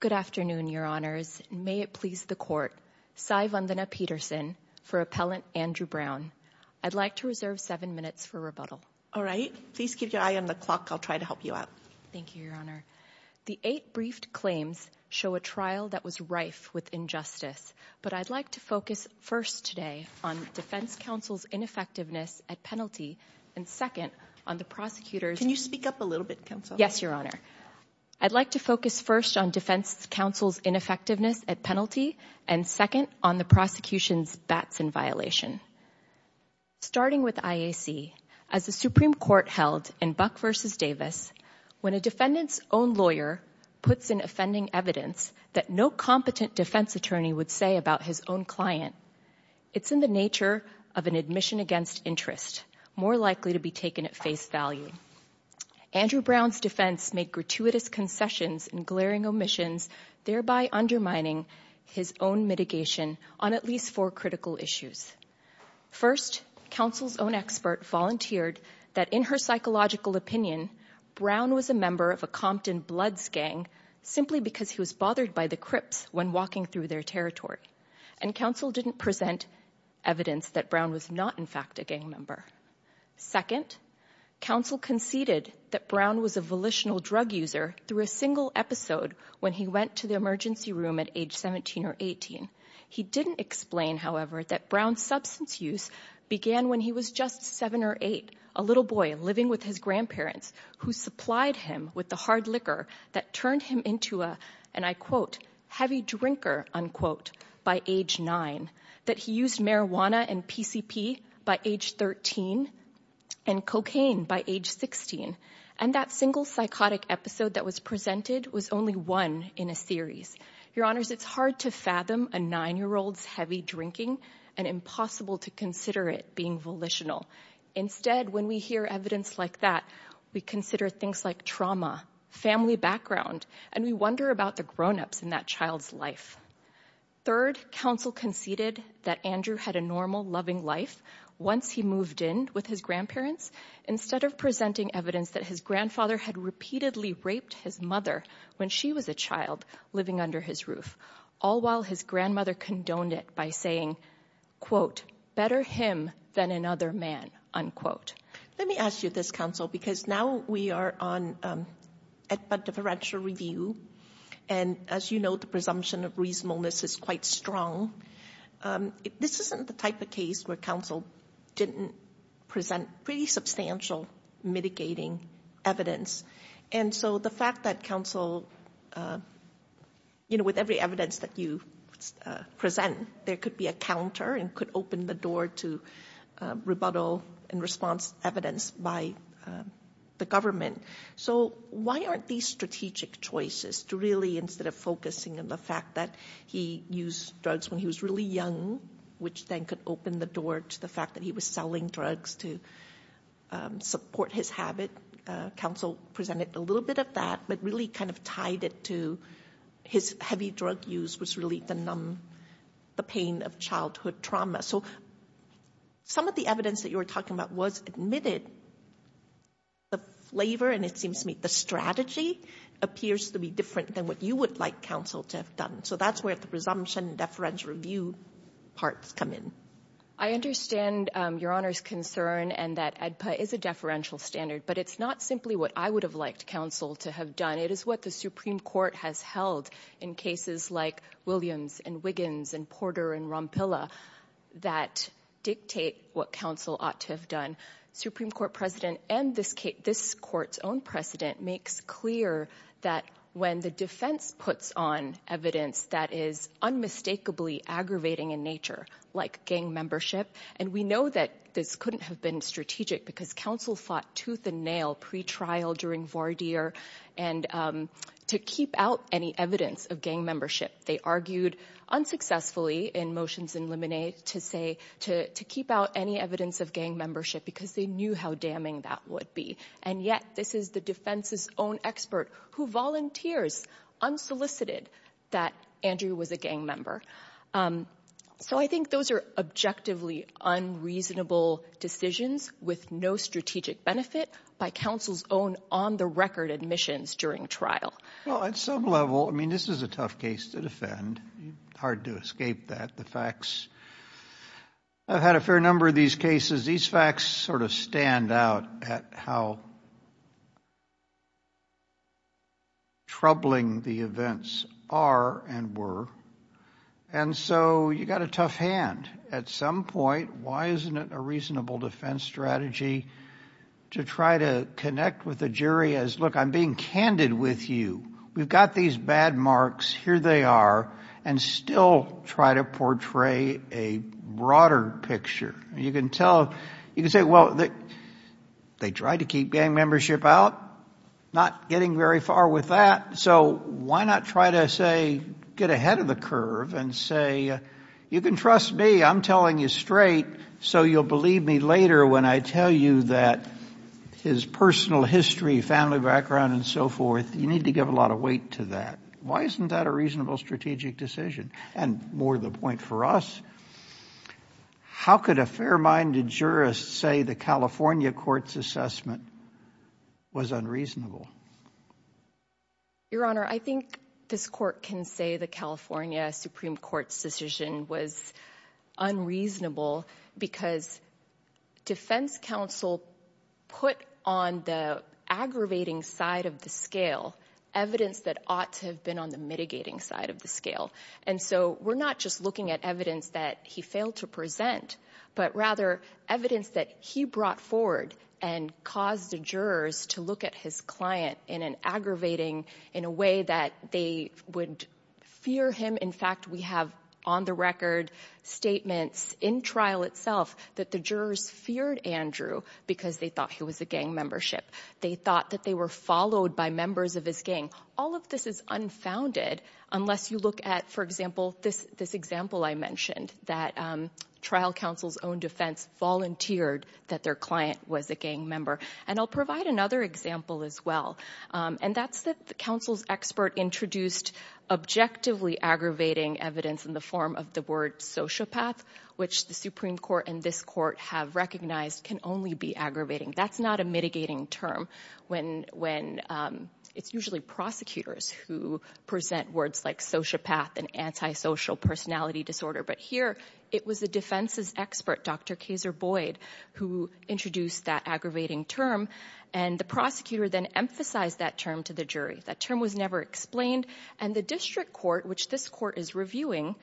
Good afternoon, Your Honors. May it please the Court. Sai Vandana Peterson for Appellant Andrew Brown. I'd like to reserve seven minutes for rebuttal. All right. Please keep your eye on the clock. I'll try to help you out. Thank you, Your Honor. The eight briefed claims show a trial that was rife with injustice, but I'd like to focus first today on Defense Counsel's ineffectiveness at penalty and second, on the prosecutor's— Can you speak up a little bit, Counsel? Yes, Your Honor. I'd like to focus first on Defense Counsel's ineffectiveness at penalty and second, on the prosecution's bats in violation. Starting with IAC, as the Supreme Court held in Buck v. Davis, when a defendant's own lawyer puts in offending evidence that no competent defense attorney would say about his own client, it's in the nature of an admission against interest, more likely to be taken at face value. Andrew Brown's defense made gratuitous concessions and glaring omissions, thereby undermining his own mitigation on at least four critical issues. First, Counsel's own expert volunteered that in her psychological opinion, Brown was a member of a Compton Bloods gang simply because he was bothered by the Crips when walking through their territory, and Counsel didn't present evidence that Brown was not, in fact, a gang member. Second, Counsel conceded that Brown was a volitional drug user through a single episode when he went to the emergency room at age 17 or 18. He didn't explain, however, that Brown's substance use began when he was just 7 or 8, a little boy living with his grandparents, who supplied him with the hard liquor that turned him into a, and I quote, heavy drinker, unquote, by age 9, that he used marijuana and PCP by age 13 and cocaine by age 16, and that single psychotic episode that was presented was only one in a series. Your Honors, it's hard to fathom a 9-year-old's heavy drinking and impossible to consider it being volitional. Instead, when we hear evidence like that, we consider things like trauma, family background, and we wonder about the grown-ups in that child's life. Third, Counsel conceded that Andrew had a normal, loving life once he moved in with his grandparents, instead of presenting evidence that his grandfather had repeatedly raped his mother when she was a child living under his roof, all while his grandmother condoned it by saying, quote, better him than another man, unquote. Let me ask you this, Counsel, because now we are on a differential review, and as you know, the presumption of reasonableness is quite strong. This isn't the type of case where Counsel didn't present pretty substantial mitigating evidence. And so the fact that Counsel, you know, with every evidence that you present, there could be a counter and could open the door to rebuttal and response evidence by the government. So why aren't these strategic choices to really, instead of focusing on the fact that he used drugs when he was really young, which then could open the door to the fact that he was selling drugs to support his habit, Counsel presented a little bit of that, but really kind of tied it to his heavy drug use was really the pain of childhood trauma. So some of the evidence that you were talking about was admitted. The flavor, and it seems to me the strategy, appears to be different than what you would like Counsel to have done. So that's where the presumption and deferential review parts come in. I understand Your Honor's concern and that ADPA is a deferential standard, but it's not simply what I would have liked Counsel to have done. It is what the Supreme Court has held in cases like Williams and Wiggins and Porter and Rompilla that dictate what Counsel ought to have done. Supreme Court president and this court's own president makes clear that when the defense puts on evidence that is unmistakably aggravating in nature, like gang membership, and we know that this couldn't have been strategic because Counsel fought tooth and nail pre-trial during Vardir to keep out any evidence of gang membership. They argued unsuccessfully in motions in Lemonade to keep out any evidence of gang membership because they knew how damning that would be, and yet this is the defense's own expert who volunteers, unsolicited, that Andrew was a gang member. So I think those are objectively unreasonable decisions with no strategic benefit by Counsel's own on-the-record admissions during trial. Well, at some level, I mean, this is a tough case to defend. It's hard to escape that, the facts. I've had a fair number of these cases. These facts sort of stand out at how troubling the events are and were, and so you've got a tough hand. At some point, why isn't it a reasonable defense strategy to try to connect with the jury as, look, I'm being candid with you. We've got these bad marks. Here they are, and still try to portray a broader picture. You can tell, you can say, well, they tried to keep gang membership out, not getting very far with that, so why not try to, say, get ahead of the curve and say, you can trust me. I'm telling you straight, so you'll believe me later when I tell you that his personal history, family background, and so forth, you need to give a lot of weight to that. Why isn't that a reasonable strategic decision? And more the point for us, how could a fair-minded jurist say the California court's assessment was unreasonable? Your Honor, I think this court can say the California Supreme Court's decision was unreasonable because defense counsel put on the aggravating side of the scale evidence that ought to have been on the mitigating side of the scale, and so we're not just looking at evidence that he failed to present, but rather evidence that he brought forward and caused the jurors to look at his client in an aggravating, in a way that they would fear him. In fact, we have on-the-record statements in trial itself that the jurors feared Andrew because they thought he was a gang membership. They thought that they were followed by members of his gang. All of this is unfounded unless you look at, for example, this example I mentioned, that trial counsel's own defense volunteered that their client was a gang member, and I'll provide another example as well, and that's that the counsel's expert introduced objectively aggravating evidence in the form of the word sociopath, which the Supreme Court and this court have recognized can only be aggravating. That's not a mitigating term when it's usually prosecutors who present words like sociopath and antisocial personality disorder, but here it was the defense's expert, Dr. Kaser Boyd, who introduced that aggravating term, and the prosecutor then emphasized that term to the jury. That term was never explained, and the district court, which this court is reviewing,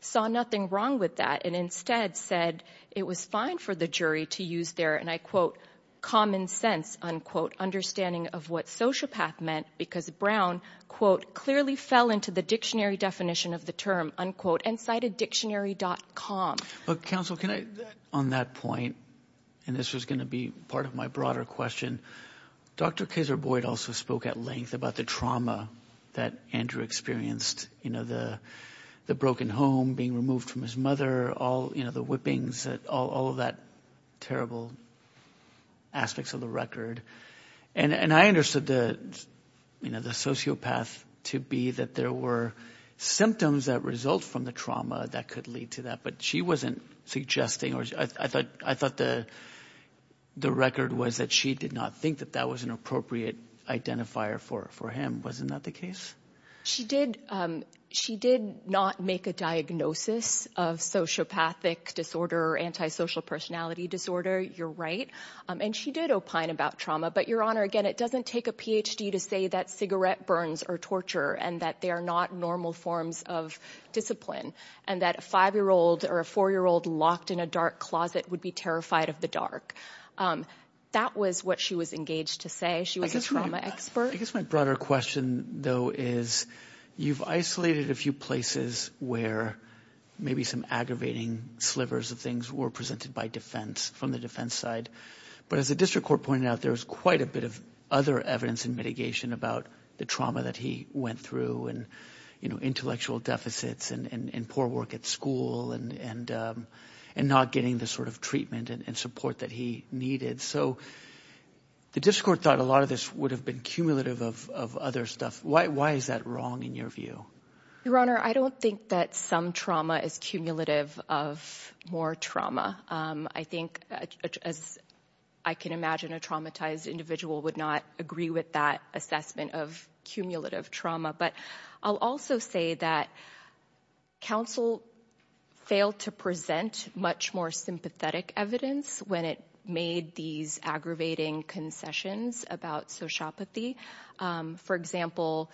saw nothing wrong with that and instead said it was fine for the jury to use there, and I quote, common sense, unquote, understanding of what sociopath meant because Brown, quote, clearly fell into the dictionary definition of the term, unquote, and cited dictionary.com. Counsel, can I, on that point, and this was going to be part of my broader question, Dr. Kaser Boyd also spoke at length about the trauma that Andrew experienced, the broken home being removed from his mother, the whippings, all of that terrible aspects of the record, and I understood the sociopath to be that there were symptoms that result from the trauma that could lead to that, but she wasn't suggesting or I thought the record was that she did not think that that was an appropriate identifier for him. Wasn't that the case? She did not make a diagnosis of sociopathic disorder or antisocial personality disorder. You're right, and she did opine about trauma, but, Your Honor, again, it doesn't take a PhD to say that cigarette burns are torture and that they are not normal forms of discipline and that a five-year-old or a four-year-old locked in a dark closet would be terrified of the dark. That was what she was engaged to say. She was a trauma expert. I guess my broader question, though, is you've isolated a few places where maybe some aggravating slivers of things were presented by defense, from the defense side, but as the district court pointed out, there was quite a bit of other evidence and mitigation about the trauma that he went through and intellectual deficits and poor work at school and not getting the sort of treatment and support that he needed. So the district court thought a lot of this would have been cumulative of other stuff. Why is that wrong in your view? Your Honor, I don't think that some trauma is cumulative of more trauma. I think, as I can imagine, a traumatized individual would not agree with that assessment of cumulative trauma. But I'll also say that counsel failed to present much more sympathetic evidence when it made these aggravating concessions about sociopathy. For example,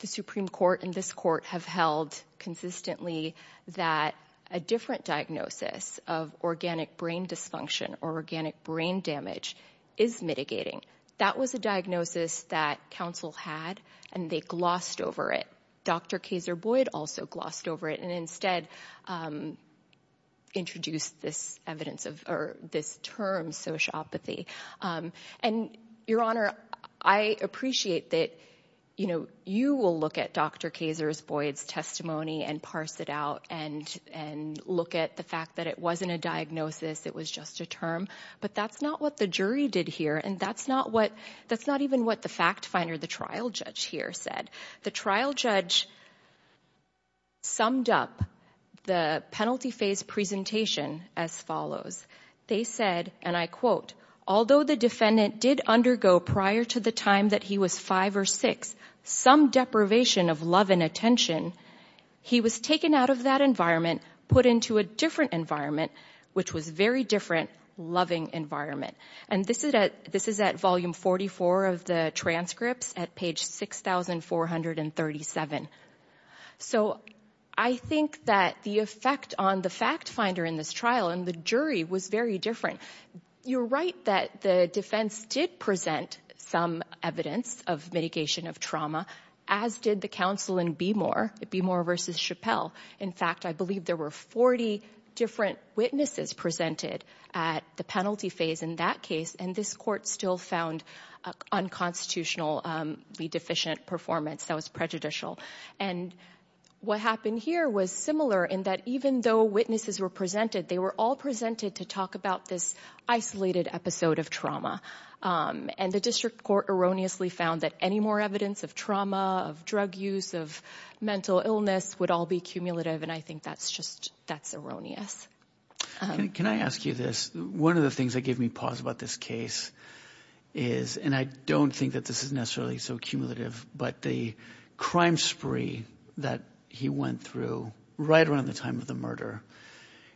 the Supreme Court and this court have held consistently that a different diagnosis of organic brain dysfunction or organic brain damage is mitigating. That was a diagnosis that counsel had, and they glossed over it. Dr. Kaser-Boyd also glossed over it and instead introduced this term sociopathy. And, Your Honor, I appreciate that you will look at Dr. Kaser-Boyd's testimony and parse it out and look at the fact that it wasn't a diagnosis, it was just a term. But that's not what the jury did here, and that's not even what the fact finder, the trial judge here, said. The trial judge summed up the penalty phase presentation as follows. They said, and I quote, although the defendant did undergo prior to the time that he was five or six some deprivation of love and attention, he was taken out of that environment, put into a different environment, which was a very different loving environment. And this is at volume 44 of the transcripts at page 6,437. So I think that the effect on the fact finder in this trial and the jury was very different. Your Honor, you're right that the defense did present some evidence of mitigation of trauma, as did the counsel in Beemore, Beemore versus Chappelle. In fact, I believe there were 40 different witnesses presented at the penalty phase in that case, and this court still found unconstitutionally deficient performance that was prejudicial. And what happened here was similar in that even though witnesses were presented, they were all presented to talk about this isolated episode of trauma. And the district court erroneously found that any more evidence of trauma, of drug use, of mental illness would all be cumulative. And I think that's just that's erroneous. Can I ask you this? One of the things that gave me pause about this case is, and I don't think that this is necessarily so cumulative, but the crime spree that he went through right around the time of the murder,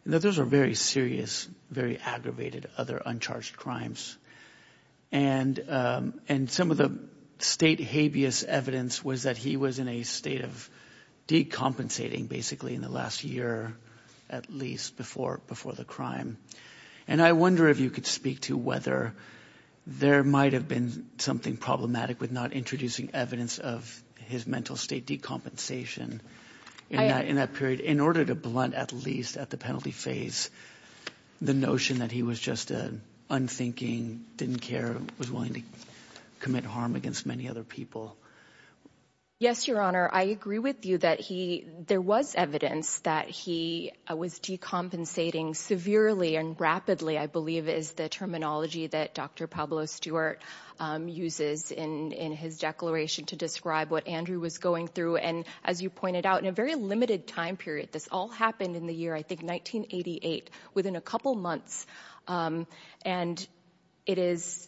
those are very serious, very aggravated, other uncharged crimes. And some of the state habeas evidence was that he was in a state of decompensating basically in the last year, at least before the crime. And I wonder if you could speak to whether there might have been something problematic with not introducing evidence of his mental state decompensation in that period, in order to blunt at least at the penalty phase the notion that he was just unthinking, didn't care, was willing to commit harm against many other people. Yes, Your Honor. I agree with you that there was evidence that he was decompensating severely and rapidly, I believe is the terminology that Dr. Pablo Stewart uses in his declaration to describe what Andrew was going through. And as you pointed out, in a very limited time period, this all happened in the year, I think, 1988, within a couple months. And it is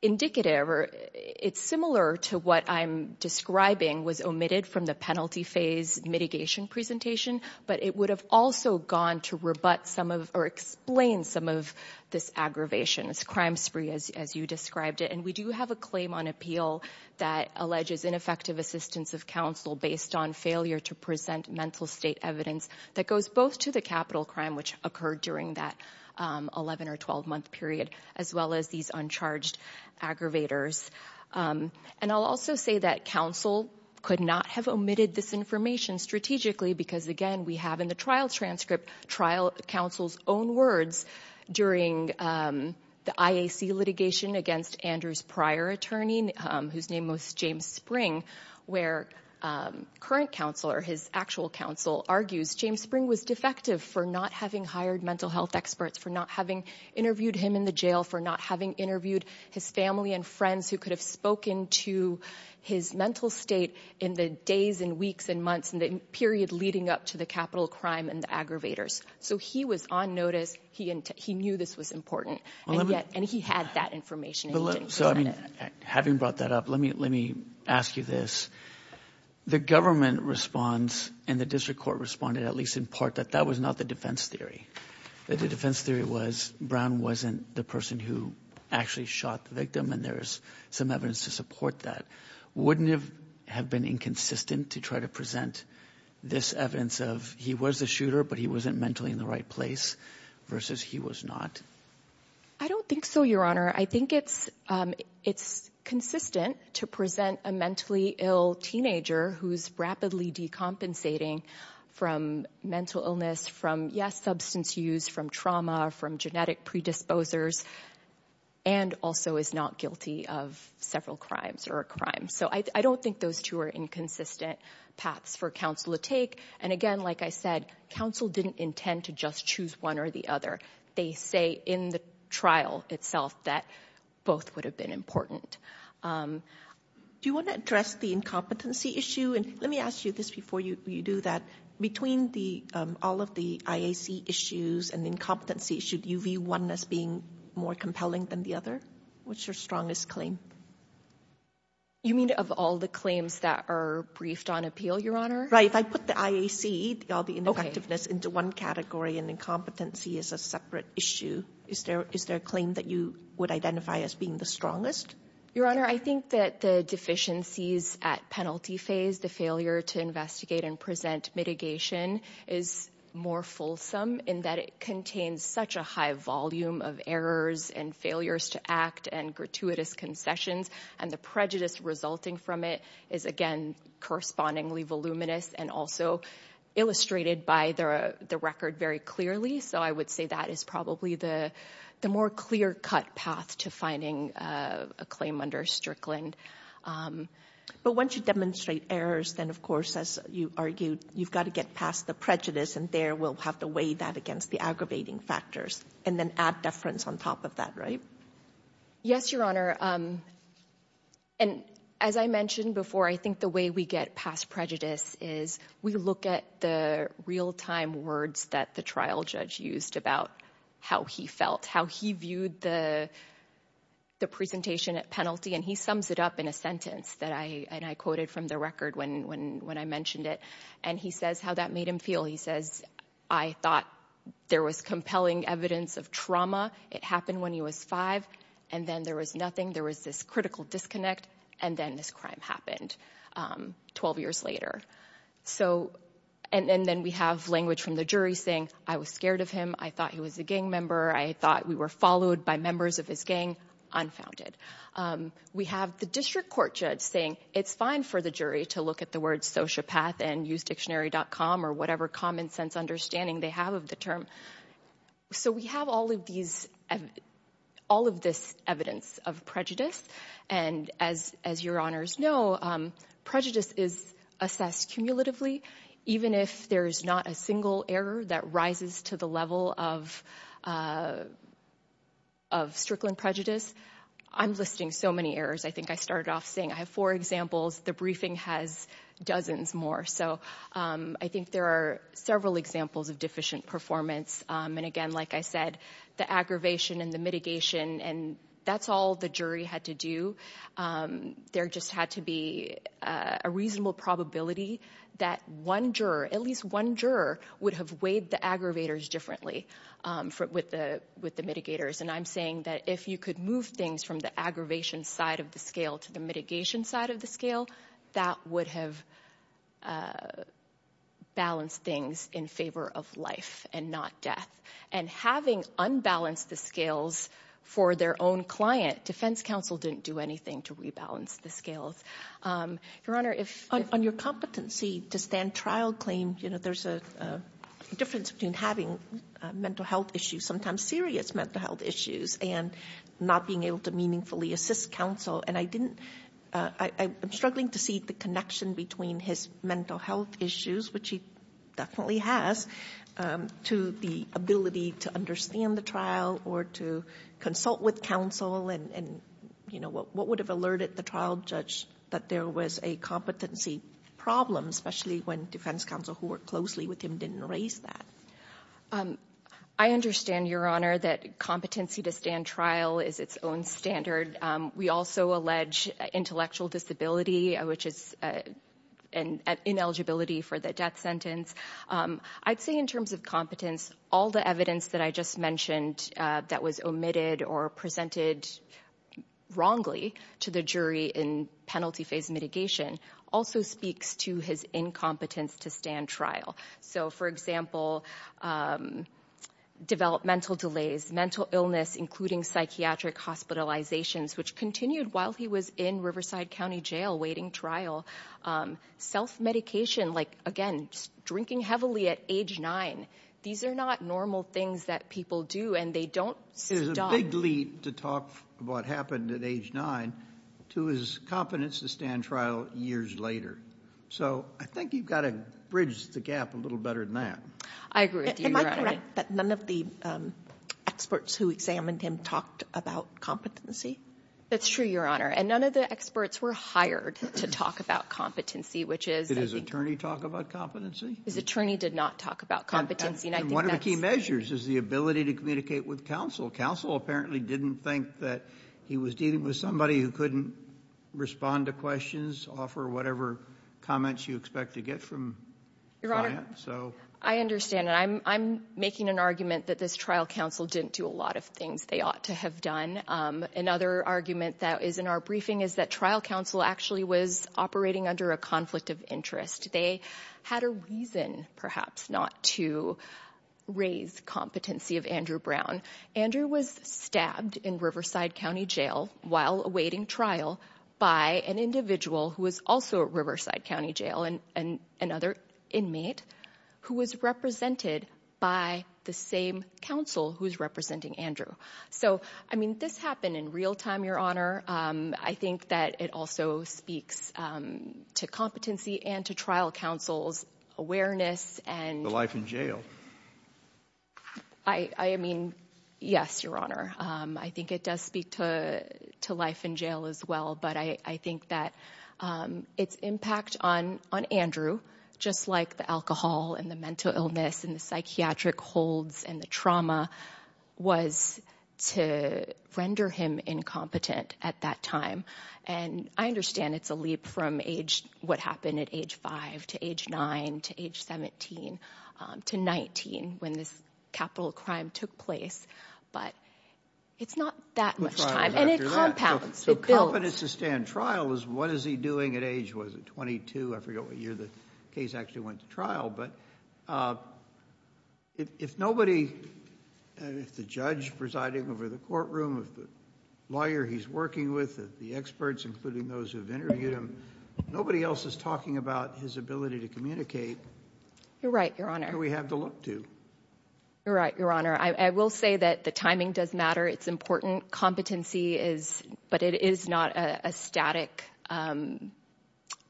indicative or it's similar to what I'm describing was omitted from the penalty phase mitigation presentation, but it would have also gone to rebut some of or explain some of this aggravation, this crime spree as you described it. And we do have a claim on appeal that alleges ineffective assistance of counsel based on failure to present mental state evidence that goes both to the capital crime, which occurred during that 11- or 12-month period, as well as these uncharged aggravators. And I'll also say that counsel could not have omitted this information strategically because, again, we have in the trial transcript trial counsel's own words during the IAC litigation against Andrew's prior attorney, whose name was James Spring, where current counsel or his actual counsel argues James Spring was defective for not having hired mental health experts, for not having interviewed him in the jail, for not having interviewed his family and friends who could have spoken to his mental state in the days and weeks and months and the period leading up to the capital crime and the aggravators. So he was on notice. He knew this was important. And he had that information. So, I mean, having brought that up, let me let me ask you this. The government responds and the district court responded, at least in part, that that was not the defense theory. The defense theory was Brown wasn't the person who actually shot the victim. And there's some evidence to support that. Wouldn't it have been inconsistent to try to present this evidence of he was a shooter, but he wasn't mentally in the right place versus he was not? I don't think so, Your Honor. I think it's it's consistent to present a mentally ill teenager who's rapidly decompensating from mental illness, from, yes, substance use, from trauma, from genetic predisposers, and also is not guilty of several crimes or a crime. So I don't think those two are inconsistent paths for counsel to take. And again, like I said, counsel didn't intend to just choose one or the other. They say in the trial itself that both would have been important. Do you want to address the incompetency issue? And let me ask you this before you do that. Between all of the IAC issues and incompetency, should you view one as being more compelling than the other? What's your strongest claim? You mean of all the claims that are briefed on appeal, Your Honor? Right. If I put the IAC, all the ineffectiveness, into one category and incompetency is a separate issue, is there a claim that you would identify as being the strongest? Your Honor, I think that the deficiencies at penalty phase, the failure to investigate and present mitigation, is more fulsome in that it contains such a high volume of errors and failures to act and gratuitous concessions, and the prejudice resulting from it is, again, correspondingly voluminous and also illustrated by the record very clearly. So I would say that is probably the more clear-cut path to finding a claim under Strickland. But once you demonstrate errors, then, of course, as you argued, you've got to get past the prejudice, and there we'll have to weigh that against the aggravating factors and then add deference on top of that, right? Yes, Your Honor. And as I mentioned before, I think the way we get past prejudice is we look at the real-time words that the trial judge used about how he felt, how he viewed the presentation at penalty, and he sums it up in a sentence that I quoted from the record when I mentioned it, and he says how that made him feel. He says, I thought there was compelling evidence of trauma. It happened when he was 5, and then there was nothing. There was this critical disconnect, and then this crime happened 12 years later. And then we have language from the jury saying, I was scared of him. I thought he was a gang member. I thought we were followed by members of his gang, unfounded. We have the district court judge saying it's fine for the jury to look at the words sociopath and usedictionary.com or whatever common sense understanding they have of the term. So we have all of this evidence of prejudice, and as Your Honors know, prejudice is assessed cumulatively. Even if there is not a single error that rises to the level of strickling prejudice, I'm listing so many errors. I think I started off saying I have four examples. The briefing has dozens more. So I think there are several examples of deficient performance. And again, like I said, the aggravation and the mitigation, and that's all the jury had to do. There just had to be a reasonable probability that one juror, at least one juror, would have weighed the aggravators differently with the mitigators. And I'm saying that if you could move things from the aggravation side of the scale to the mitigation side of the scale, that would have balanced things in favor of life and not death. And having unbalanced the scales for their own client, defense counsel didn't do anything to rebalance the scales. Your Honor, if- On your competency to stand trial claim, you know, there's a difference between having mental health issues, sometimes serious mental health issues, and not being able to meaningfully assist counsel. And I didn't-I'm struggling to see the connection between his mental health issues, which he definitely has, to the ability to understand the trial or to consult with counsel and, you know, what would have alerted the trial judge that there was a competency problem, especially when defense counsel who worked closely with him didn't raise that. I understand, Your Honor, that competency to stand trial is its own standard. We also allege intellectual disability, which is an ineligibility for the death sentence. I'd say in terms of competence, all the evidence that I just mentioned that was omitted or presented wrongly to the jury in penalty phase mitigation also speaks to his incompetence to stand trial. So, for example, developmental delays, mental illness, including psychiatric hospitalizations, which continued while he was in Riverside County Jail waiting trial. Self-medication, like, again, drinking heavily at age nine. These are not normal things that people do, and they don't- There's a big leap to talk about what happened at age nine to his competence to stand trial years later. So I think you've got to bridge the gap a little better than that. I agree with you, Your Honor. Am I correct that none of the experts who examined him talked about competency? That's true, Your Honor, and none of the experts were hired to talk about competency, which is- Did his attorney talk about competency? His attorney did not talk about competency, and I think that's- And one of the key measures is the ability to communicate with counsel. Counsel apparently didn't think that he was dealing with somebody who couldn't respond to questions, offer whatever comments you expect to get from client, so- Your Honor, I understand, and I'm making an argument that this trial counsel didn't do a lot of things they ought to have done. Another argument that is in our briefing is that trial counsel actually was operating under a conflict of interest. They had a reason, perhaps, not to raise competency of Andrew Brown. Andrew was stabbed in Riverside County Jail while awaiting trial by an individual who was also at Riverside County Jail and another inmate who was represented by the same counsel who was representing Andrew. So, I mean, this happened in real time, Your Honor. I think that it also speaks to competency and to trial counsel's awareness and- The life in jail. I mean, yes, Your Honor. I think it does speak to life in jail as well, but I think that its impact on Andrew, just like the alcohol and the mental illness and the psychiatric holds and the trauma, was to render him incompetent at that time. And I understand it's a leap from what happened at age 5 to age 9 to age 17 to 19 when this capital crime took place, but it's not that much time. And it compounds. It builds. Competence at trial is what is he doing at age, what is it, 22? I forget what year the case actually went to trial, but if nobody, if the judge presiding over the courtroom, if the lawyer he's working with, the experts, including those who've interviewed him, nobody else is talking about his ability to communicate. You're right, Your Honor. Who we have to look to. You're right, Your Honor. I will say that the timing does matter. It's important. Competency is, but it is not a static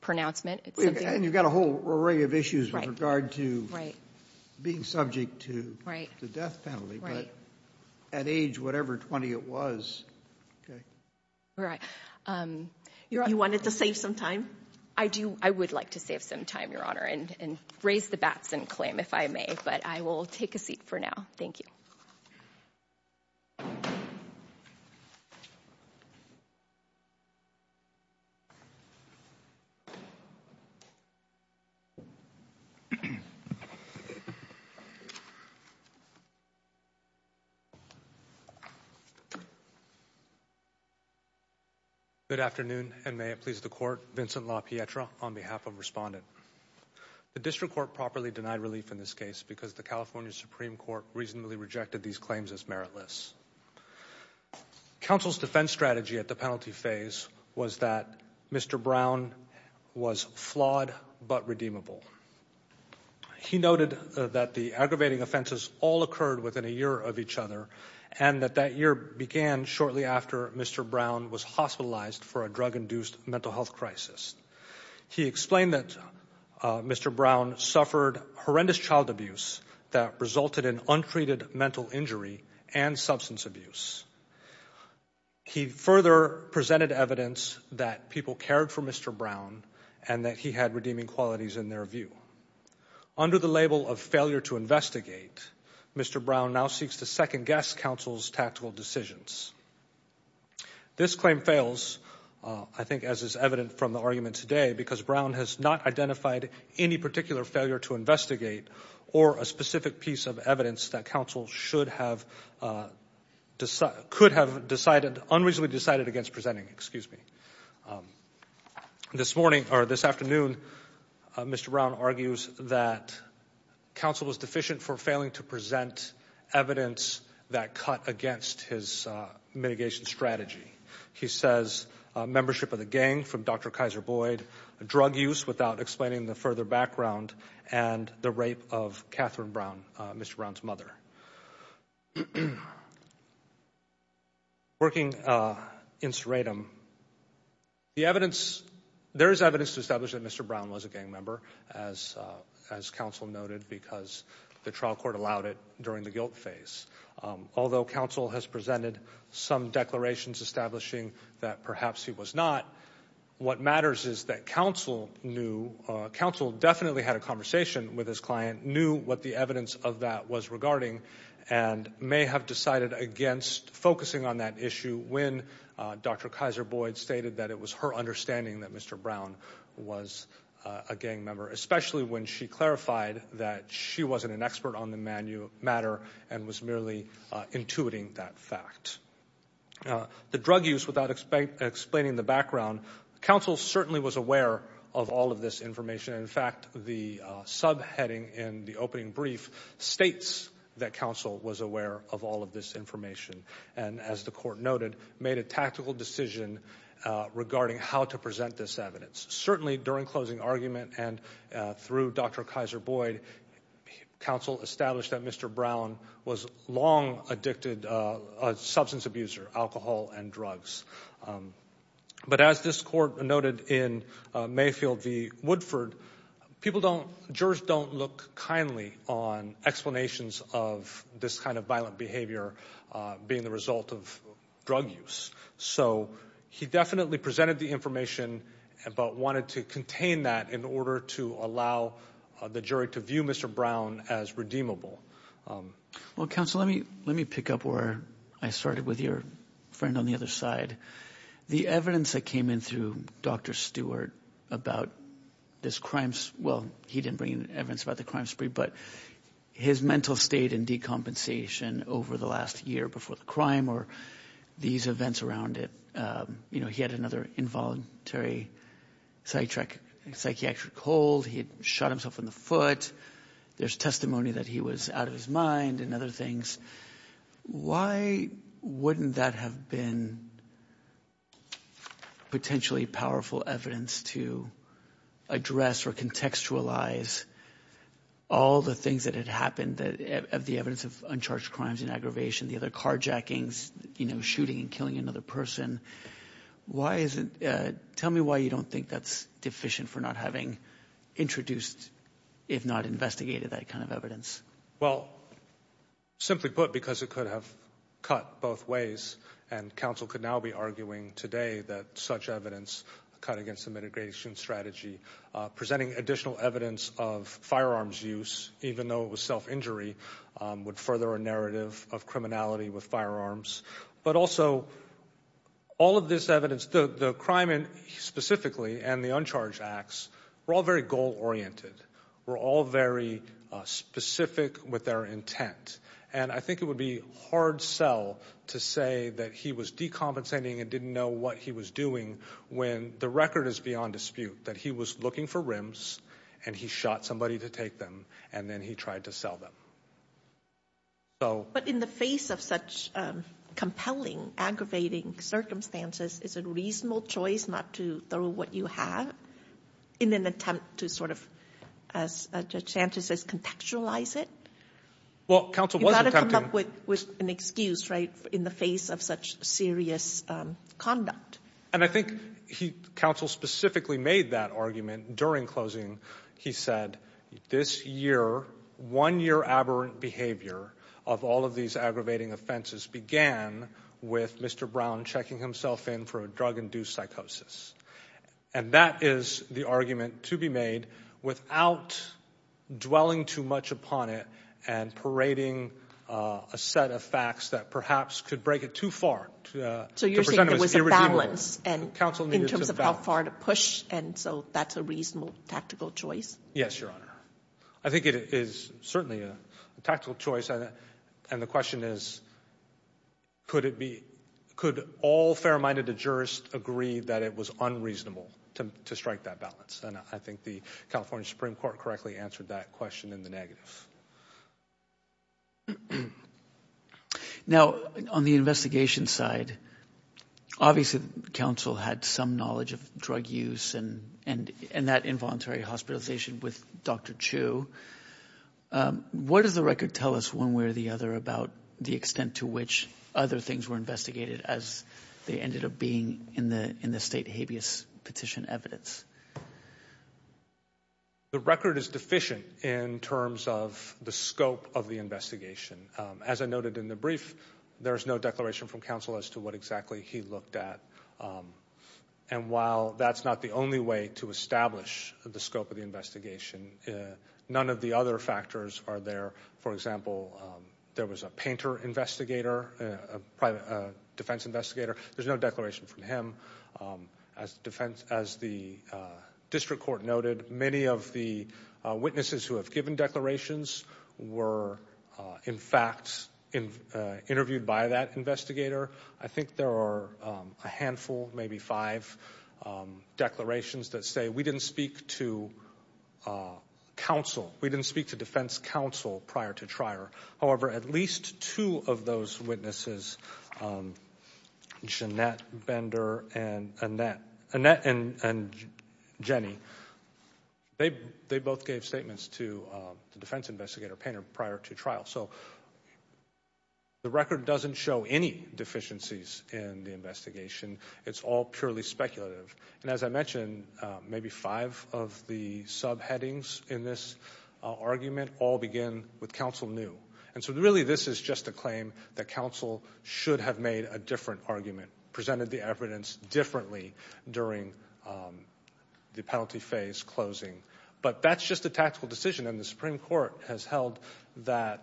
pronouncement. And you've got a whole array of issues with regard to being subject to the death penalty, but at age whatever 20 it was, okay. All right. You wanted to save some time? I do. I would like to save some time, Your Honor, and raise the Batson claim if I may, but I will take a seat for now. Thank you. Good afternoon, and may it please the Court. Vincent LaPietra on behalf of Respondent. The District Court properly denied relief in this case because the California Supreme Court reasonably rejected these claims as meritless. Counsel's defense strategy at the penalty phase was that Mr. Brown was flawed but redeemable. He noted that the aggravating offenses all occurred within a year of each other and that that year began shortly after Mr. Brown was hospitalized for a drug-induced mental health crisis. He explained that Mr. Brown suffered horrendous child abuse that resulted in untreated mental injury and substance abuse. He further presented evidence that people cared for Mr. Brown and that he had redeeming qualities in their view. Under the label of failure to investigate, Mr. Brown now seeks to second-guess counsel's tactical decisions. This claim fails, I think as is evident from the argument today, because Brown has not identified any particular failure to investigate or a specific piece of evidence that counsel could have unreasonably decided against presenting. This afternoon, Mr. Brown argues that counsel was deficient for failing to present evidence that cut against his mitigation strategy. He says membership of the gang from Dr. Kaiser Boyd, drug use without explaining the further background, and the rape of Catherine Brown, Mr. Brown's mother. Working in Serratum, there is evidence to establish that Mr. Brown was a gang member, as counsel noted, because the trial court allowed it during the guilt phase. Although counsel has presented some declarations establishing that perhaps he was not, what matters is that counsel definitely had a conversation with his client, knew what the evidence of that was regarding, and may have decided against focusing on that issue when Dr. Kaiser Boyd stated that it was her understanding that Mr. Brown was a gang member, especially when she clarified that she wasn't an expert on the matter and was merely intuiting that fact. The drug use without explaining the background, counsel certainly was aware of all of this information. In fact, the subheading in the opening brief states that counsel was aware of all of this information and, as the court noted, made a tactical decision regarding how to present this evidence. Certainly, during closing argument and through Dr. Kaiser Boyd, counsel established that Mr. Brown was a long addicted substance abuser, alcohol and drugs. But as this court noted in Mayfield v. Woodford, people don't, jurors don't look kindly on explanations of this kind of violent behavior being the result of drug use. So he definitely presented the information but wanted to contain that in order to allow the jury to view Mr. Brown as redeemable. Well, counsel, let me pick up where I started with your friend on the other side. The evidence that came in through Dr. Stewart about this crime, well, he didn't bring evidence about the crime spree, but his mental state and decompensation over the last year before the crime or these events around it, you know, he had another involuntary psychiatric hold. He had shot himself in the foot. There's testimony that he was out of his mind and other things. Why wouldn't that have been potentially powerful evidence to address or contextualize all the things that had happened, the evidence of uncharged crimes and aggravation, the other carjackings, you know, shooting and killing another person? Why isn't — tell me why you don't think that's deficient for not having introduced, if not investigated, that kind of evidence. Well, simply put, because it could have cut both ways, and counsel could now be arguing today that such evidence cut against the mitigation strategy, presenting additional evidence of firearms use, even though it was self-injury, would further a narrative of criminality with firearms. But also, all of this evidence, the crime specifically and the uncharged acts, were all very goal-oriented. Were all very specific with their intent. And I think it would be hard sell to say that he was decompensating and didn't know what he was doing when the record is beyond dispute that he was looking for rims and he shot somebody to take them and then he tried to sell them. But in the face of such compelling, aggravating circumstances, is it a reasonable choice not to throw what you have in an attempt to sort of, as Judge Sanchez says, contextualize it? Well, counsel was attempting— You've got to come up with an excuse, right, in the face of such serious conduct. And I think counsel specifically made that argument during closing. He said, this year, one-year aberrant behavior of all of these aggravating offenses began with Mr. Brown checking himself in for a drug-induced psychosis. And that is the argument to be made without dwelling too much upon it and parading a set of facts that perhaps could break it too far. So you're saying there was a balance in terms of how far to push, and so that's a reasonable tactical choice? Yes, Your Honor. I think it is certainly a tactical choice. And the question is, could all fair-minded jurists agree that it was unreasonable to strike that balance? And I think the California Supreme Court correctly answered that question in the negative. Now, on the investigation side, obviously counsel had some knowledge of drug use and that involuntary hospitalization with Dr. Chu. What does the record tell us one way or the other about the extent to which other things were investigated as they ended up being in the state habeas petition evidence? The record is deficient in terms of the scope of the investigation. As I noted in the brief, there is no declaration from counsel as to what exactly he looked at. And while that's not the only way to establish the scope of the investigation, none of the other factors are there. For example, there was a painter investigator, a defense investigator. There's no declaration from him. As the district court noted, many of the witnesses who have given declarations were, in fact, interviewed by that investigator. I think there are a handful, maybe five declarations that say we didn't speak to counsel, we didn't speak to defense counsel prior to trial. However, at least two of those witnesses, Jeanette Bender and Annette, Annette and Jenny, they both gave statements to the defense investigator painter prior to trial. So the record doesn't show any deficiencies in the investigation. It's all purely speculative. And as I mentioned, maybe five of the subheadings in this argument all begin with counsel knew. And so really this is just a claim that counsel should have made a different argument, presented the evidence differently during the penalty phase closing. But that's just a tactical decision. And the Supreme Court has held that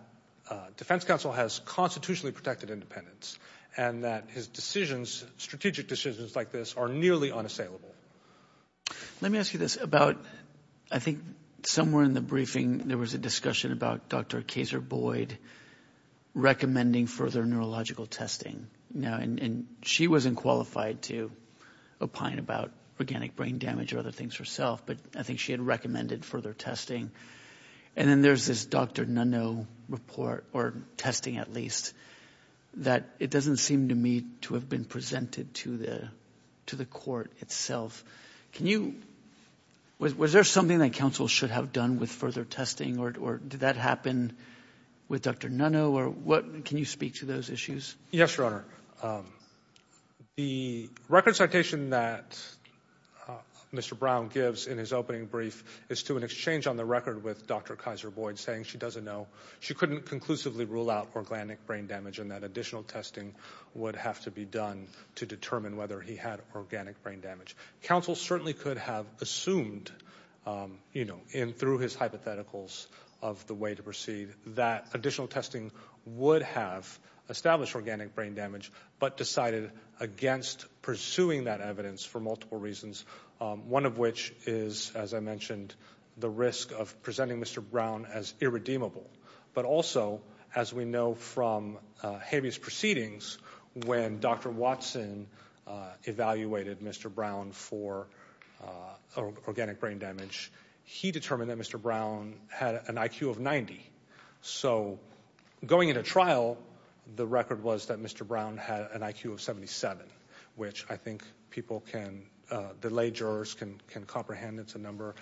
defense counsel has constitutionally protected independence and that his decisions, strategic decisions like this, are nearly unassailable. Let me ask you this about I think somewhere in the briefing there was a discussion about Dr. Kaser Boyd recommending further neurological testing. And she wasn't qualified to opine about organic brain damage or other things herself, but I think she had recommended further testing. And then there's this Dr. Nunno report, or testing at least, that it doesn't seem to me to have been presented to the court itself. Was there something that counsel should have done with further testing, or did that happen with Dr. Nunno? Can you speak to those issues? Yes, Your Honor. The record citation that Mr. Brown gives in his opening brief is to an exchange on the record with Dr. Kaser Boyd saying she doesn't know, she couldn't conclusively rule out organic brain damage and that additional testing would have to be done to determine whether he had organic brain damage. Counsel certainly could have assumed, you know, through his hypotheticals of the way to proceed, that additional testing would have established organic brain damage, but decided against pursuing that evidence for multiple reasons, one of which is, as I mentioned, the risk of presenting Mr. Brown as irredeemable. But also, as we know from habeas proceedings, when Dr. Watson evaluated Mr. Brown for organic brain damage, he determined that Mr. Brown had an IQ of 90. So going into trial, the record was that Mr. Brown had an IQ of 77, which I think people can delay jurors, can comprehend it's a number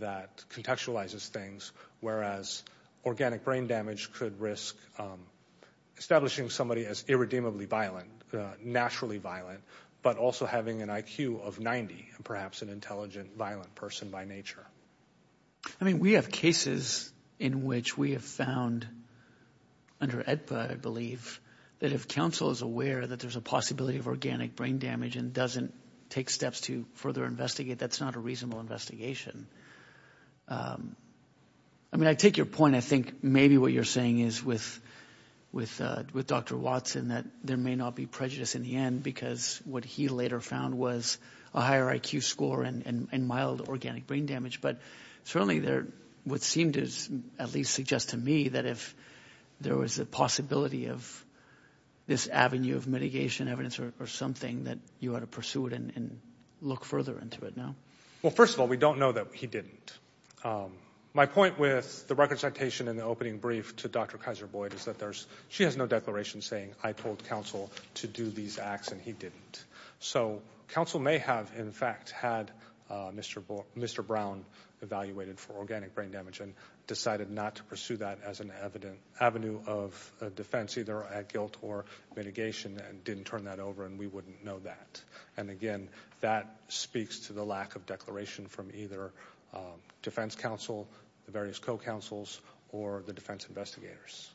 that contextualizes things, whereas organic brain damage could risk establishing somebody as irredeemably violent, naturally violent, but also having an IQ of 90 and perhaps an intelligent, violent person by nature. I mean, we have cases in which we have found under AEDPA, I believe, that if counsel is aware that there's a possibility of organic brain damage and doesn't take steps to further investigate, that's not a reasonable investigation. I mean, I take your point. I think maybe what you're saying is with Dr. Watson that there may not be prejudice in the end because what he later found was a higher IQ score and mild organic brain damage. But certainly what seemed to at least suggest to me that if there was a possibility of this avenue of mitigation, evidence or something, that you ought to pursue it and look further into it now. Well, first of all, we don't know that he didn't. My point with the record citation and the opening brief to Dr. Kaiser-Boyd is that she has no declaration saying, I told counsel to do these acts and he didn't. So counsel may have, in fact, had Mr. Brown evaluated for organic brain damage and decided not to pursue that as an avenue of defense either at guilt or mitigation and didn't turn that over and we wouldn't know that. And, again, that speaks to the lack of declaration from either defense counsel, the various co-counsels, or the defense investigators.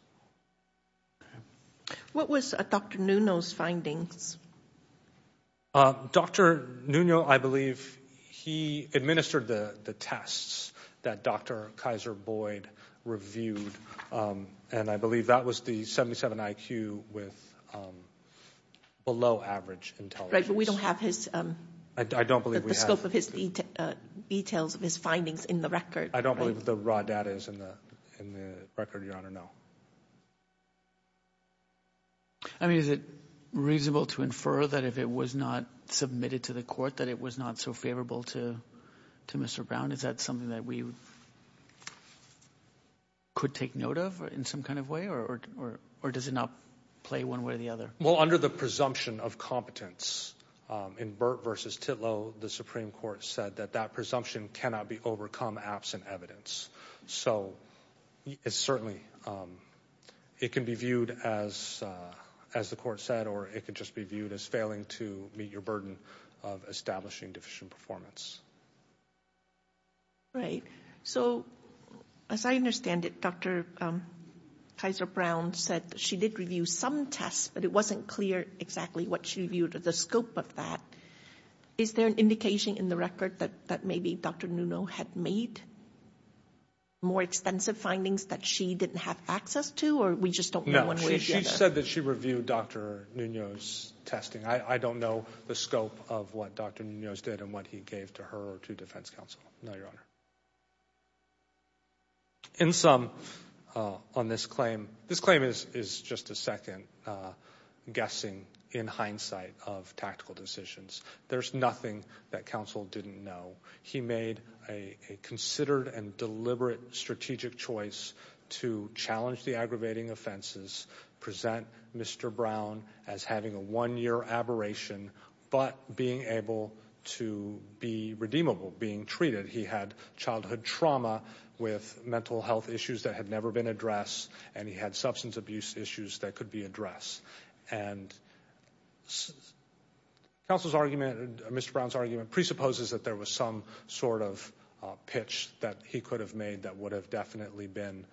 What was Dr. Nuno's findings? Dr. Nuno, I believe he administered the tests that Dr. Kaiser-Boyd reviewed and I believe that was the 77 IQ with below average intelligence. Right, but we don't have the scope of his details of his findings in the record. I don't believe the raw data is in the record, Your Honor, no. I mean, is it reasonable to infer that if it was not submitted to the court, that it was not so favorable to Mr. Brown? Is that something that we could take note of in some kind of way or does it not play one way or the other? Well, under the presumption of competence in Burt v. Titlow, the Supreme Court said that that presumption cannot be overcome absent evidence. So it certainly can be viewed as the court said or it could just be viewed as failing to meet your burden of establishing deficient performance. Right. So as I understand it, Dr. Kaiser-Brown said that she did review some tests but it wasn't clear exactly what she reviewed or the scope of that. Is there an indication in the record that maybe Dr. Nunez had made more extensive findings that she didn't have access to or we just don't know one way or the other? No, she said that she reviewed Dr. Nunez's testing. I don't know the scope of what Dr. Nunez did and what he gave to her or to defense counsel. No, Your Honor. In sum, on this claim, this claim is just a second guessing in hindsight of tactical decisions. There's nothing that counsel didn't know. He made a considered and deliberate strategic choice to challenge the aggravating offenses, present Mr. Brown as having a one-year aberration but being able to be redeemable, being treated. He had childhood trauma with mental health issues that had never been addressed and he had substance abuse issues that could be addressed. And counsel's argument, Mr. Brown's argument presupposes that there was some sort of pitch that he could have made that would have definitely been,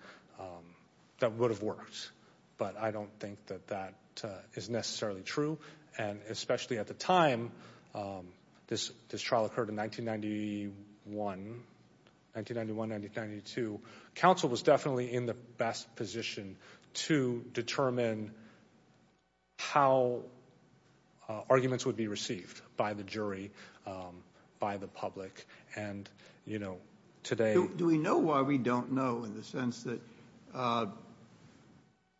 that would have worked. But I don't think that that is necessarily true. And especially at the time, this trial occurred in 1991, 1991, 1992. Counsel was definitely in the best position to determine how arguments would be received by the jury, by the public. And, you know, today. Do we know why we don't know in the sense that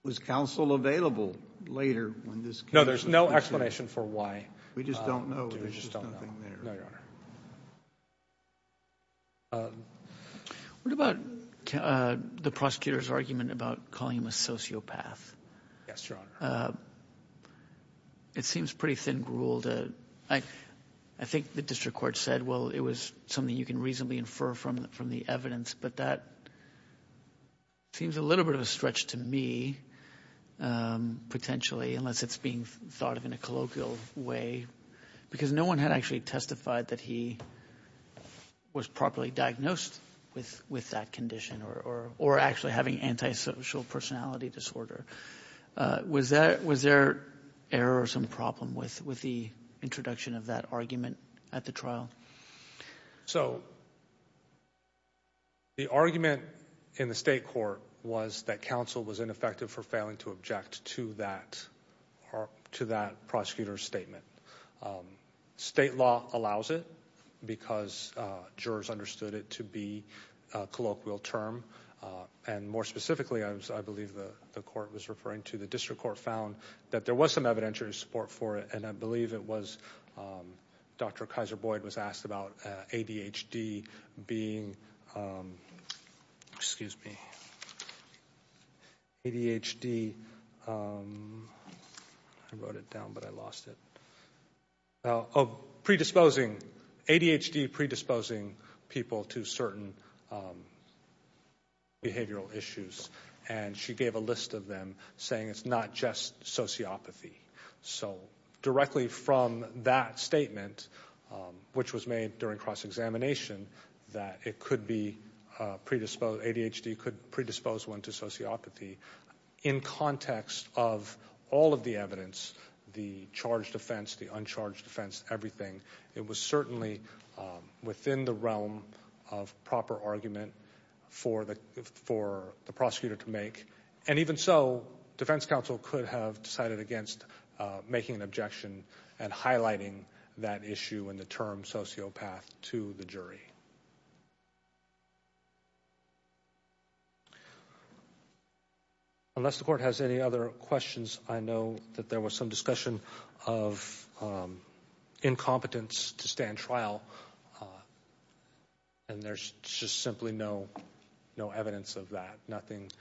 was counsel available later when this came? No, there's no explanation for why. We just don't know. There's just nothing there. No, Your Honor. What about the prosecutor's argument about calling him a sociopath? Yes, Your Honor. It seems pretty thin grueled. I think the district court said, well, it was something you can reasonably infer from the evidence, but that seems a little bit of a stretch to me, potentially, unless it's being thought of in a colloquial way. Because no one had actually testified that he was properly diagnosed with that condition or actually having antisocial personality disorder. Was there error or some problem with the introduction of that argument at the trial? So the argument in the state court was that counsel was ineffective for failing to object to that prosecutor's statement. State law allows it because jurors understood it to be a colloquial term. And more specifically, I believe the court was referring to, the district court found that there was some evidentiary support for it, and I believe it was Dr. Kaiser-Boyd was asked about ADHD being, excuse me, ADHD. I wrote it down, but I lost it. Predisposing, ADHD predisposing people to certain behavioral issues, and she gave a list of them saying it's not just sociopathy. So directly from that statement, which was made during cross-examination, that it could be predisposed, ADHD could predispose one to sociopathy, in context of all of the evidence, the charged offense, the uncharged offense, everything, it was certainly within the realm of proper argument for the prosecutor to make. And even so, defense counsel could have decided against making an objection and highlighting that issue in the term sociopath to the jury. Unless the court has any other questions, I know that there was some discussion of incompetence to stand trial, and there's just simply no evidence of that. Nothing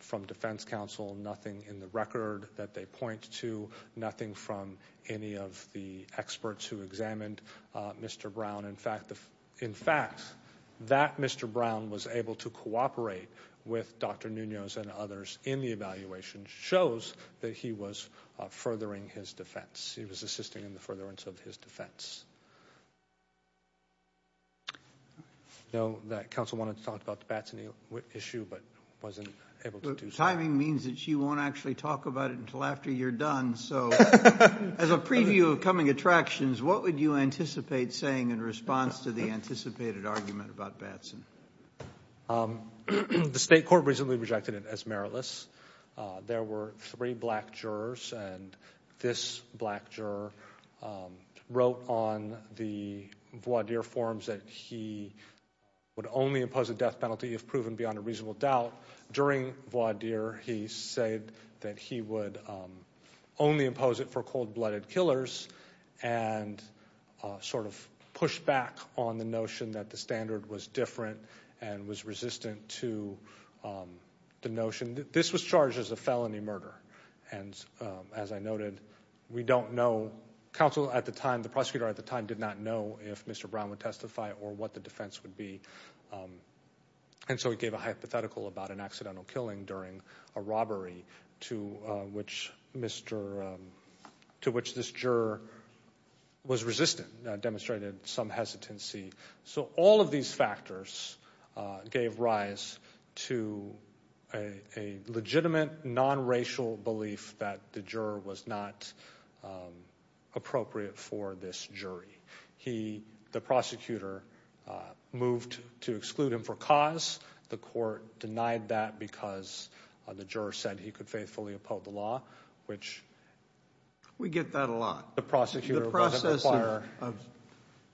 from defense counsel, nothing in the record that they point to, nothing from any of the experts who examined Mr. Brown. In fact, that Mr. Brown was able to cooperate with Dr. Nunez and others in the evaluation shows that he was furthering his defense. I know that counsel wanted to talk about the Batson issue, but wasn't able to do so. Well, timing means that she won't actually talk about it until after you're done, so as a preview of coming attractions, what would you anticipate saying in response to the anticipated argument about Batson? The state court recently rejected it as meritless. There were three black jurors, and this black juror wrote on the state court on the voir dire forms that he would only impose a death penalty if proven beyond a reasonable doubt. During voir dire, he said that he would only impose it for cold-blooded killers and sort of pushed back on the notion that the standard was different and was resistant to the notion that this was charged as a felony murder. And as I noted, we don't know. Counsel at the time, the prosecutor at the time, did not know if Mr. Brown would testify or what the defense would be. And so he gave a hypothetical about an accidental killing during a robbery to which this juror was resistant, demonstrated some hesitancy. So all of these factors gave rise to a legitimate, non-racial belief that the juror was not appropriate for this jury. He, the prosecutor, moved to exclude him for cause. The court denied that because the juror said he could faithfully oppose the law, which... We get that a lot. The prosecutor doesn't require...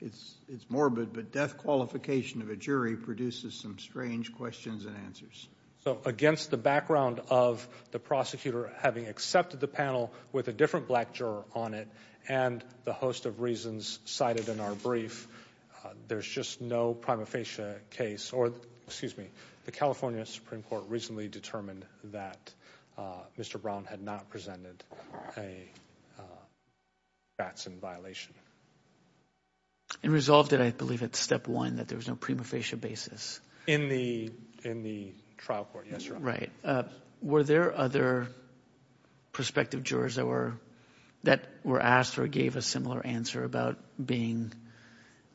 It's morbid, but death qualification of a jury produces some strange questions and answers. So against the background of the prosecutor having accepted the panel with a different black juror on it and the host of reasons cited in our brief, there's just no prima facie case or, excuse me, the California Supreme Court recently determined that Mr. Brown had not presented a Jackson violation. And resolved it, I believe, at step one, that there was no prima facie basis. In the trial court, yes, Your Honor. Right. Were there other prospective jurors that were asked or gave a similar answer about being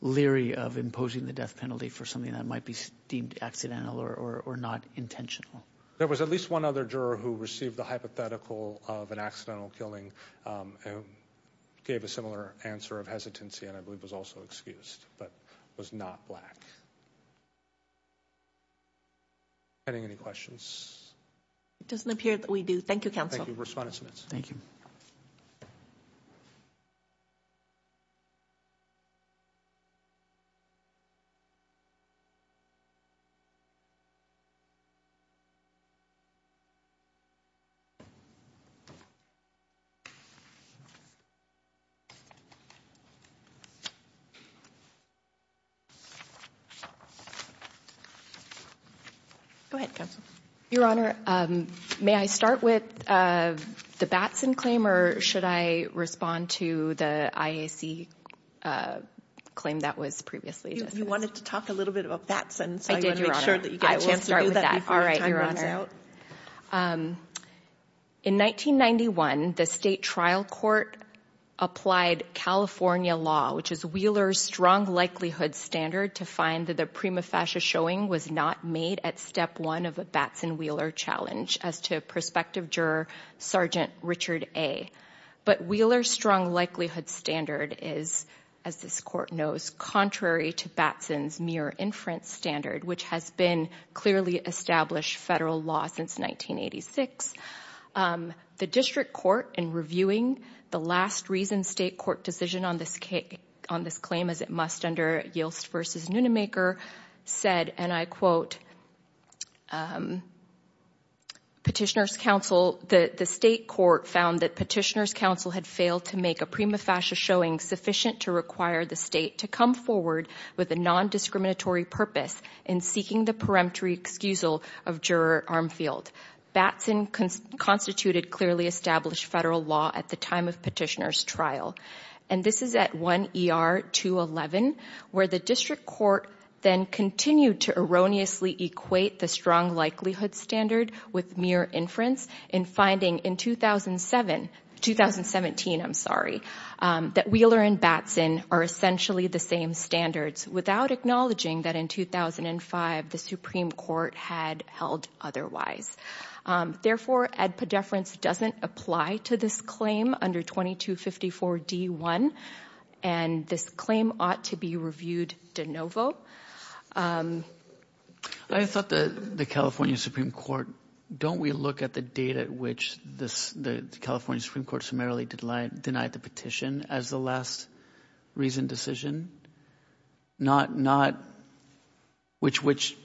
leery of imposing the death penalty for something that might be deemed accidental or not intentional? There was at least one other juror who received the hypothetical of an accidental killing and gave a similar answer of hesitancy and I believe was also excused, but was not black. Any questions? It doesn't appear that we do. Thank you, counsel. Thank you, Respondent Smith. Thank you. Go ahead, counsel. Your Honor, may I start with the Batson claim or should I respond to the IAC claim that was previously discussed? You wanted to talk a little bit about Batson, so I want to make sure that you get a chance to do that before your time runs out. In 1991, the state trial court applied California law, which is Wheeler's strong likelihood standard, to find that the prima facie showing was not made at step one of a Batson-Wheeler challenge as to prospective juror Sergeant Richard A. But Wheeler's strong likelihood standard is, as this court knows, contrary to Batson's mere inference standard, which has been clearly established federal law since 1986. The district court, in reviewing the last reason state court decision on this claim, as it must under Yielst v. Nunemaker, said, and I quote, petitioner's counsel, the state court found that petitioner's counsel had failed to make a prima facie showing sufficient to require the state to come forward with a nondiscriminatory purpose in seeking the peremptory excusal of juror Armfield. Batson constituted clearly established federal law at the time of petitioner's trial. And this is at 1 ER 211, where the district court then continued to erroneously equate the strong likelihood standard with mere inference in finding in 2007, 2017, I'm sorry, that Wheeler and Batson are essentially the same standards, without acknowledging that in 2005, the Supreme Court had held otherwise. Therefore, ad pedeference doesn't apply to this claim under 2254 D1. And this claim ought to be reviewed de novo. I thought that the California Supreme Court, don't we look at the data at which the California Supreme Court summarily denied the petition as the last reason decision? Not, which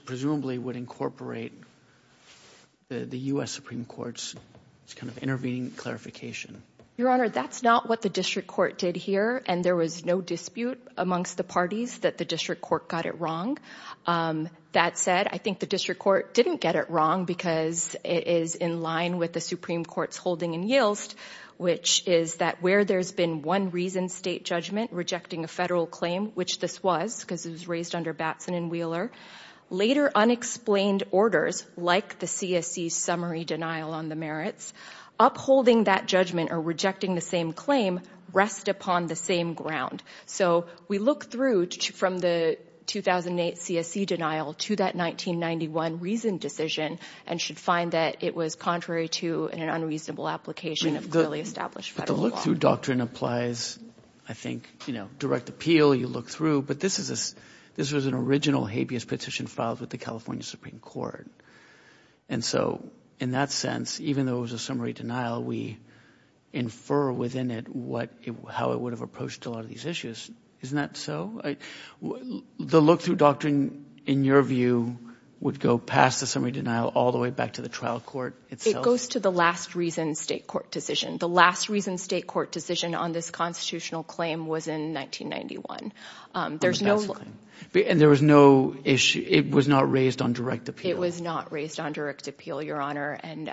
presumably would incorporate the US Supreme Court's kind of intervening clarification. Your Honor, that's not what the district court did here. And there was no dispute amongst the parties that the district court got it wrong. That said, I think the district court didn't get it wrong because it is in line with the Supreme Court's holding and yields, which is that where there's been one reason state judgment rejecting a federal claim, which this was because it was raised under Batson and Wheeler, later unexplained orders like the CSC summary denial on the merits upholding that judgment or rejecting the same claim rest upon the same ground. So we look through from the 2008 CSC denial to that 1991 reason decision and should find that it was contrary to an unreasonable application of clearly established federal law. But the look-through doctrine applies, I think, direct appeal. You look through. But this was an original habeas petition filed with the California Supreme Court. And so in that sense, even though it was a summary denial, we infer within it how it would have approached a lot of these issues. Isn't that so? The look-through doctrine, in your view, would go past the summary denial all the way back to the trial court itself? It goes to the last reason state court decision. The last reason state court decision on this constitutional claim was in 1991. And there was no issue. It was not raised on direct appeal. It was not raised on direct appeal, Your Honor, and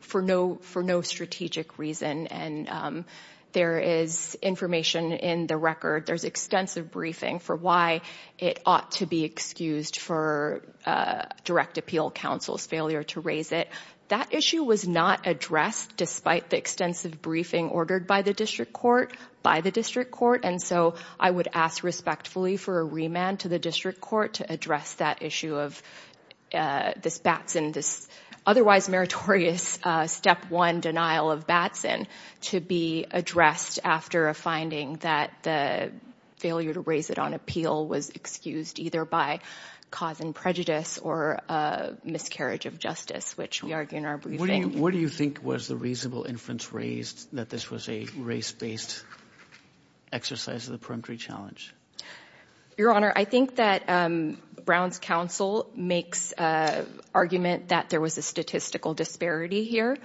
for no strategic reason. And there is information in the record. There's extensive briefing for why it ought to be excused for direct appeal counsel's failure to raise it. That issue was not addressed despite the extensive briefing ordered by the district court, by the district court. And so I would ask respectfully for a remand to the district court to address that issue of this Batson, this otherwise meritorious step one denial of Batson to be addressed after a finding that the failure to raise it on appeal was excused either by cause and prejudice or miscarriage of justice, which we argue in our briefing. What do you think was the reasonable inference raised that this was a race-based exercise of the peremptory challenge? Your Honor, I think that Brown's counsel makes argument that there was a statistical disparity here.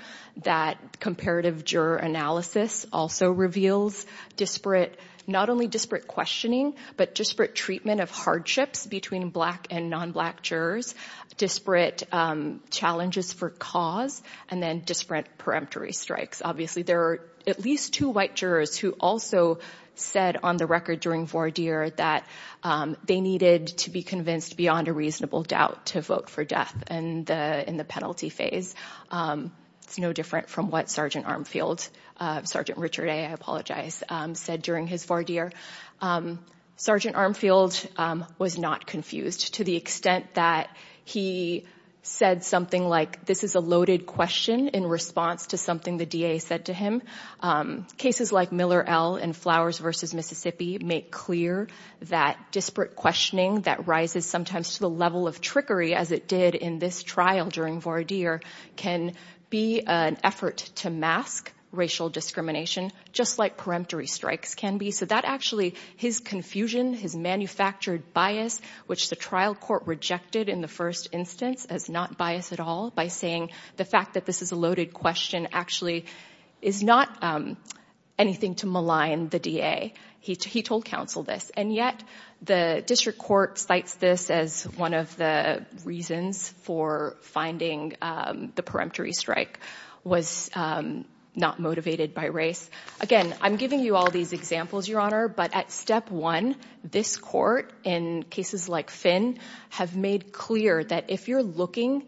That comparative juror analysis also reveals disparate, not only disparate questioning, but disparate treatment of hardships between black and non-black jurors, disparate challenges for cause, and then disparate peremptory strikes. Obviously, there are at least two white jurors who also said on the record during voir dire that they needed to be convinced beyond a reasonable doubt to vote for death in the penalty phase. It's no different from what Sergeant Armfield, Sergeant Richard A., I apologize, said during his voir dire. Sergeant Armfield was not confused to the extent that he said something like, this is a loaded question in response to something the DA said to him. Cases like Miller L. and Flowers v. Mississippi make clear that disparate questioning that rises sometimes to the level of trickery as it did in this trial during voir dire can be an effort to mask racial discrimination, just like peremptory strikes can be. So that actually, his confusion, his manufactured bias, which the trial court rejected in the first instance as not bias at all by saying the fact that this is a loaded question actually is not anything to malign the DA. He told counsel this, and yet the district court cites this as one of the reasons for finding the peremptory strike was not motivated by race. Again, I'm giving you all these examples, Your Honor, but at step one, this court in cases like Finn have made clear that if you're looking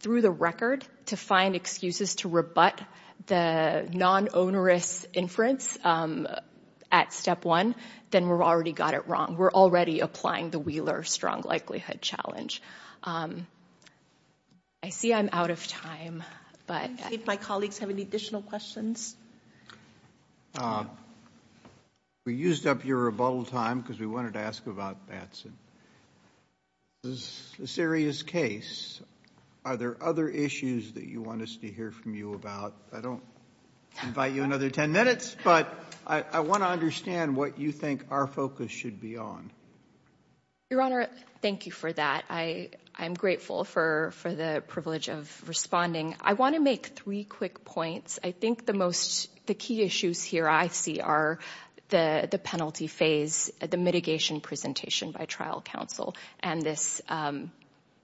through the record to find excuses to rebut the non-onerous inference at step one, then we've already got it wrong. We're already applying the Wheeler strong likelihood challenge. I see I'm out of time, but... I think my colleagues have any additional questions. We used up your rebuttal time because we wanted to ask about Batson. This is a serious case. Are there other issues that you want us to hear from you about? I don't invite you another 10 minutes, but I want to understand what you think our focus should be on. Your Honor, thank you for that. I am grateful for the privilege of responding. I want to make three quick points. I think the key issues here I see are the penalty phase, the mitigation presentation by trial counsel, and this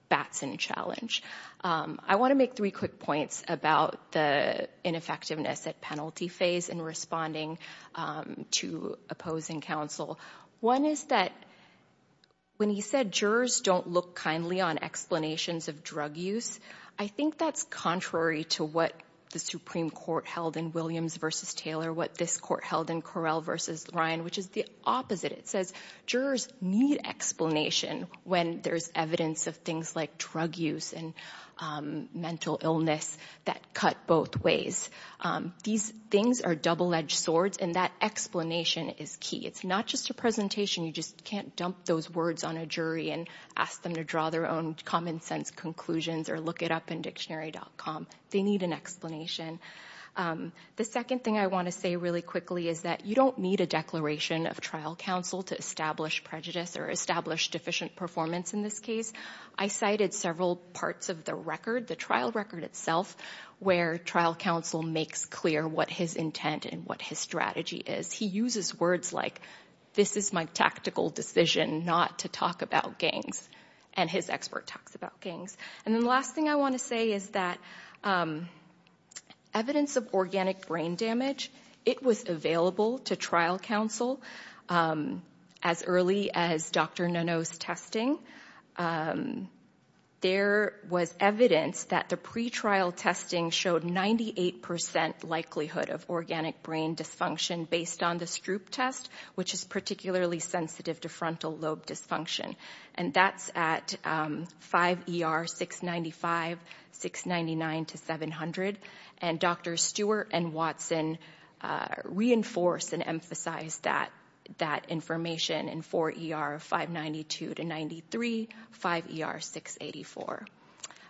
Batson challenge. I want to make three quick points about the ineffectiveness at penalty phase in responding to opposing counsel. One is that when he said jurors don't look kindly on explanations of drug use, I think that's contrary to what the Supreme Court held in Williams v. Taylor, what this court held in Correll v. Ryan, which is the opposite. It says jurors need explanation when there's evidence of things like drug use and mental illness that cut both ways. These things are double-edged swords, and that explanation is key. It's not just a presentation. You just can't dump those words on a jury and ask them to draw their own common-sense conclusions or look it up in dictionary.com. They need an explanation. The second thing I want to say really quickly is that you don't need a declaration of trial counsel to establish prejudice or establish deficient performance in this case. I cited several parts of the record, the trial record itself, where trial counsel makes clear what his intent and what his strategy is. He uses words like, this is my tactical decision not to talk about gangs, and his expert talks about gangs. And then the last thing I want to say is that evidence of organic brain damage, it was available to trial counsel as early as Dr. Nono's testing. There was evidence that the pretrial testing showed 98% likelihood of organic brain dysfunction based on the Stroop test, which is particularly sensitive to frontal lobe dysfunction. And that's at 5 ER 695, 699 to 700. And Dr. Stewart and Watson reinforced and emphasized that information in 4 ER 592 to 93, 5 ER 684.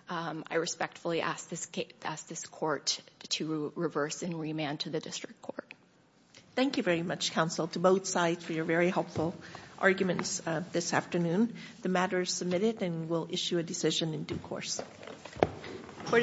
I respectfully ask this court to reverse and remand to the district court. Thank you very much, counsel, to both sides for your very helpful arguments this afternoon. The matter is submitted and we'll issue a decision in due course. Court is adjourned.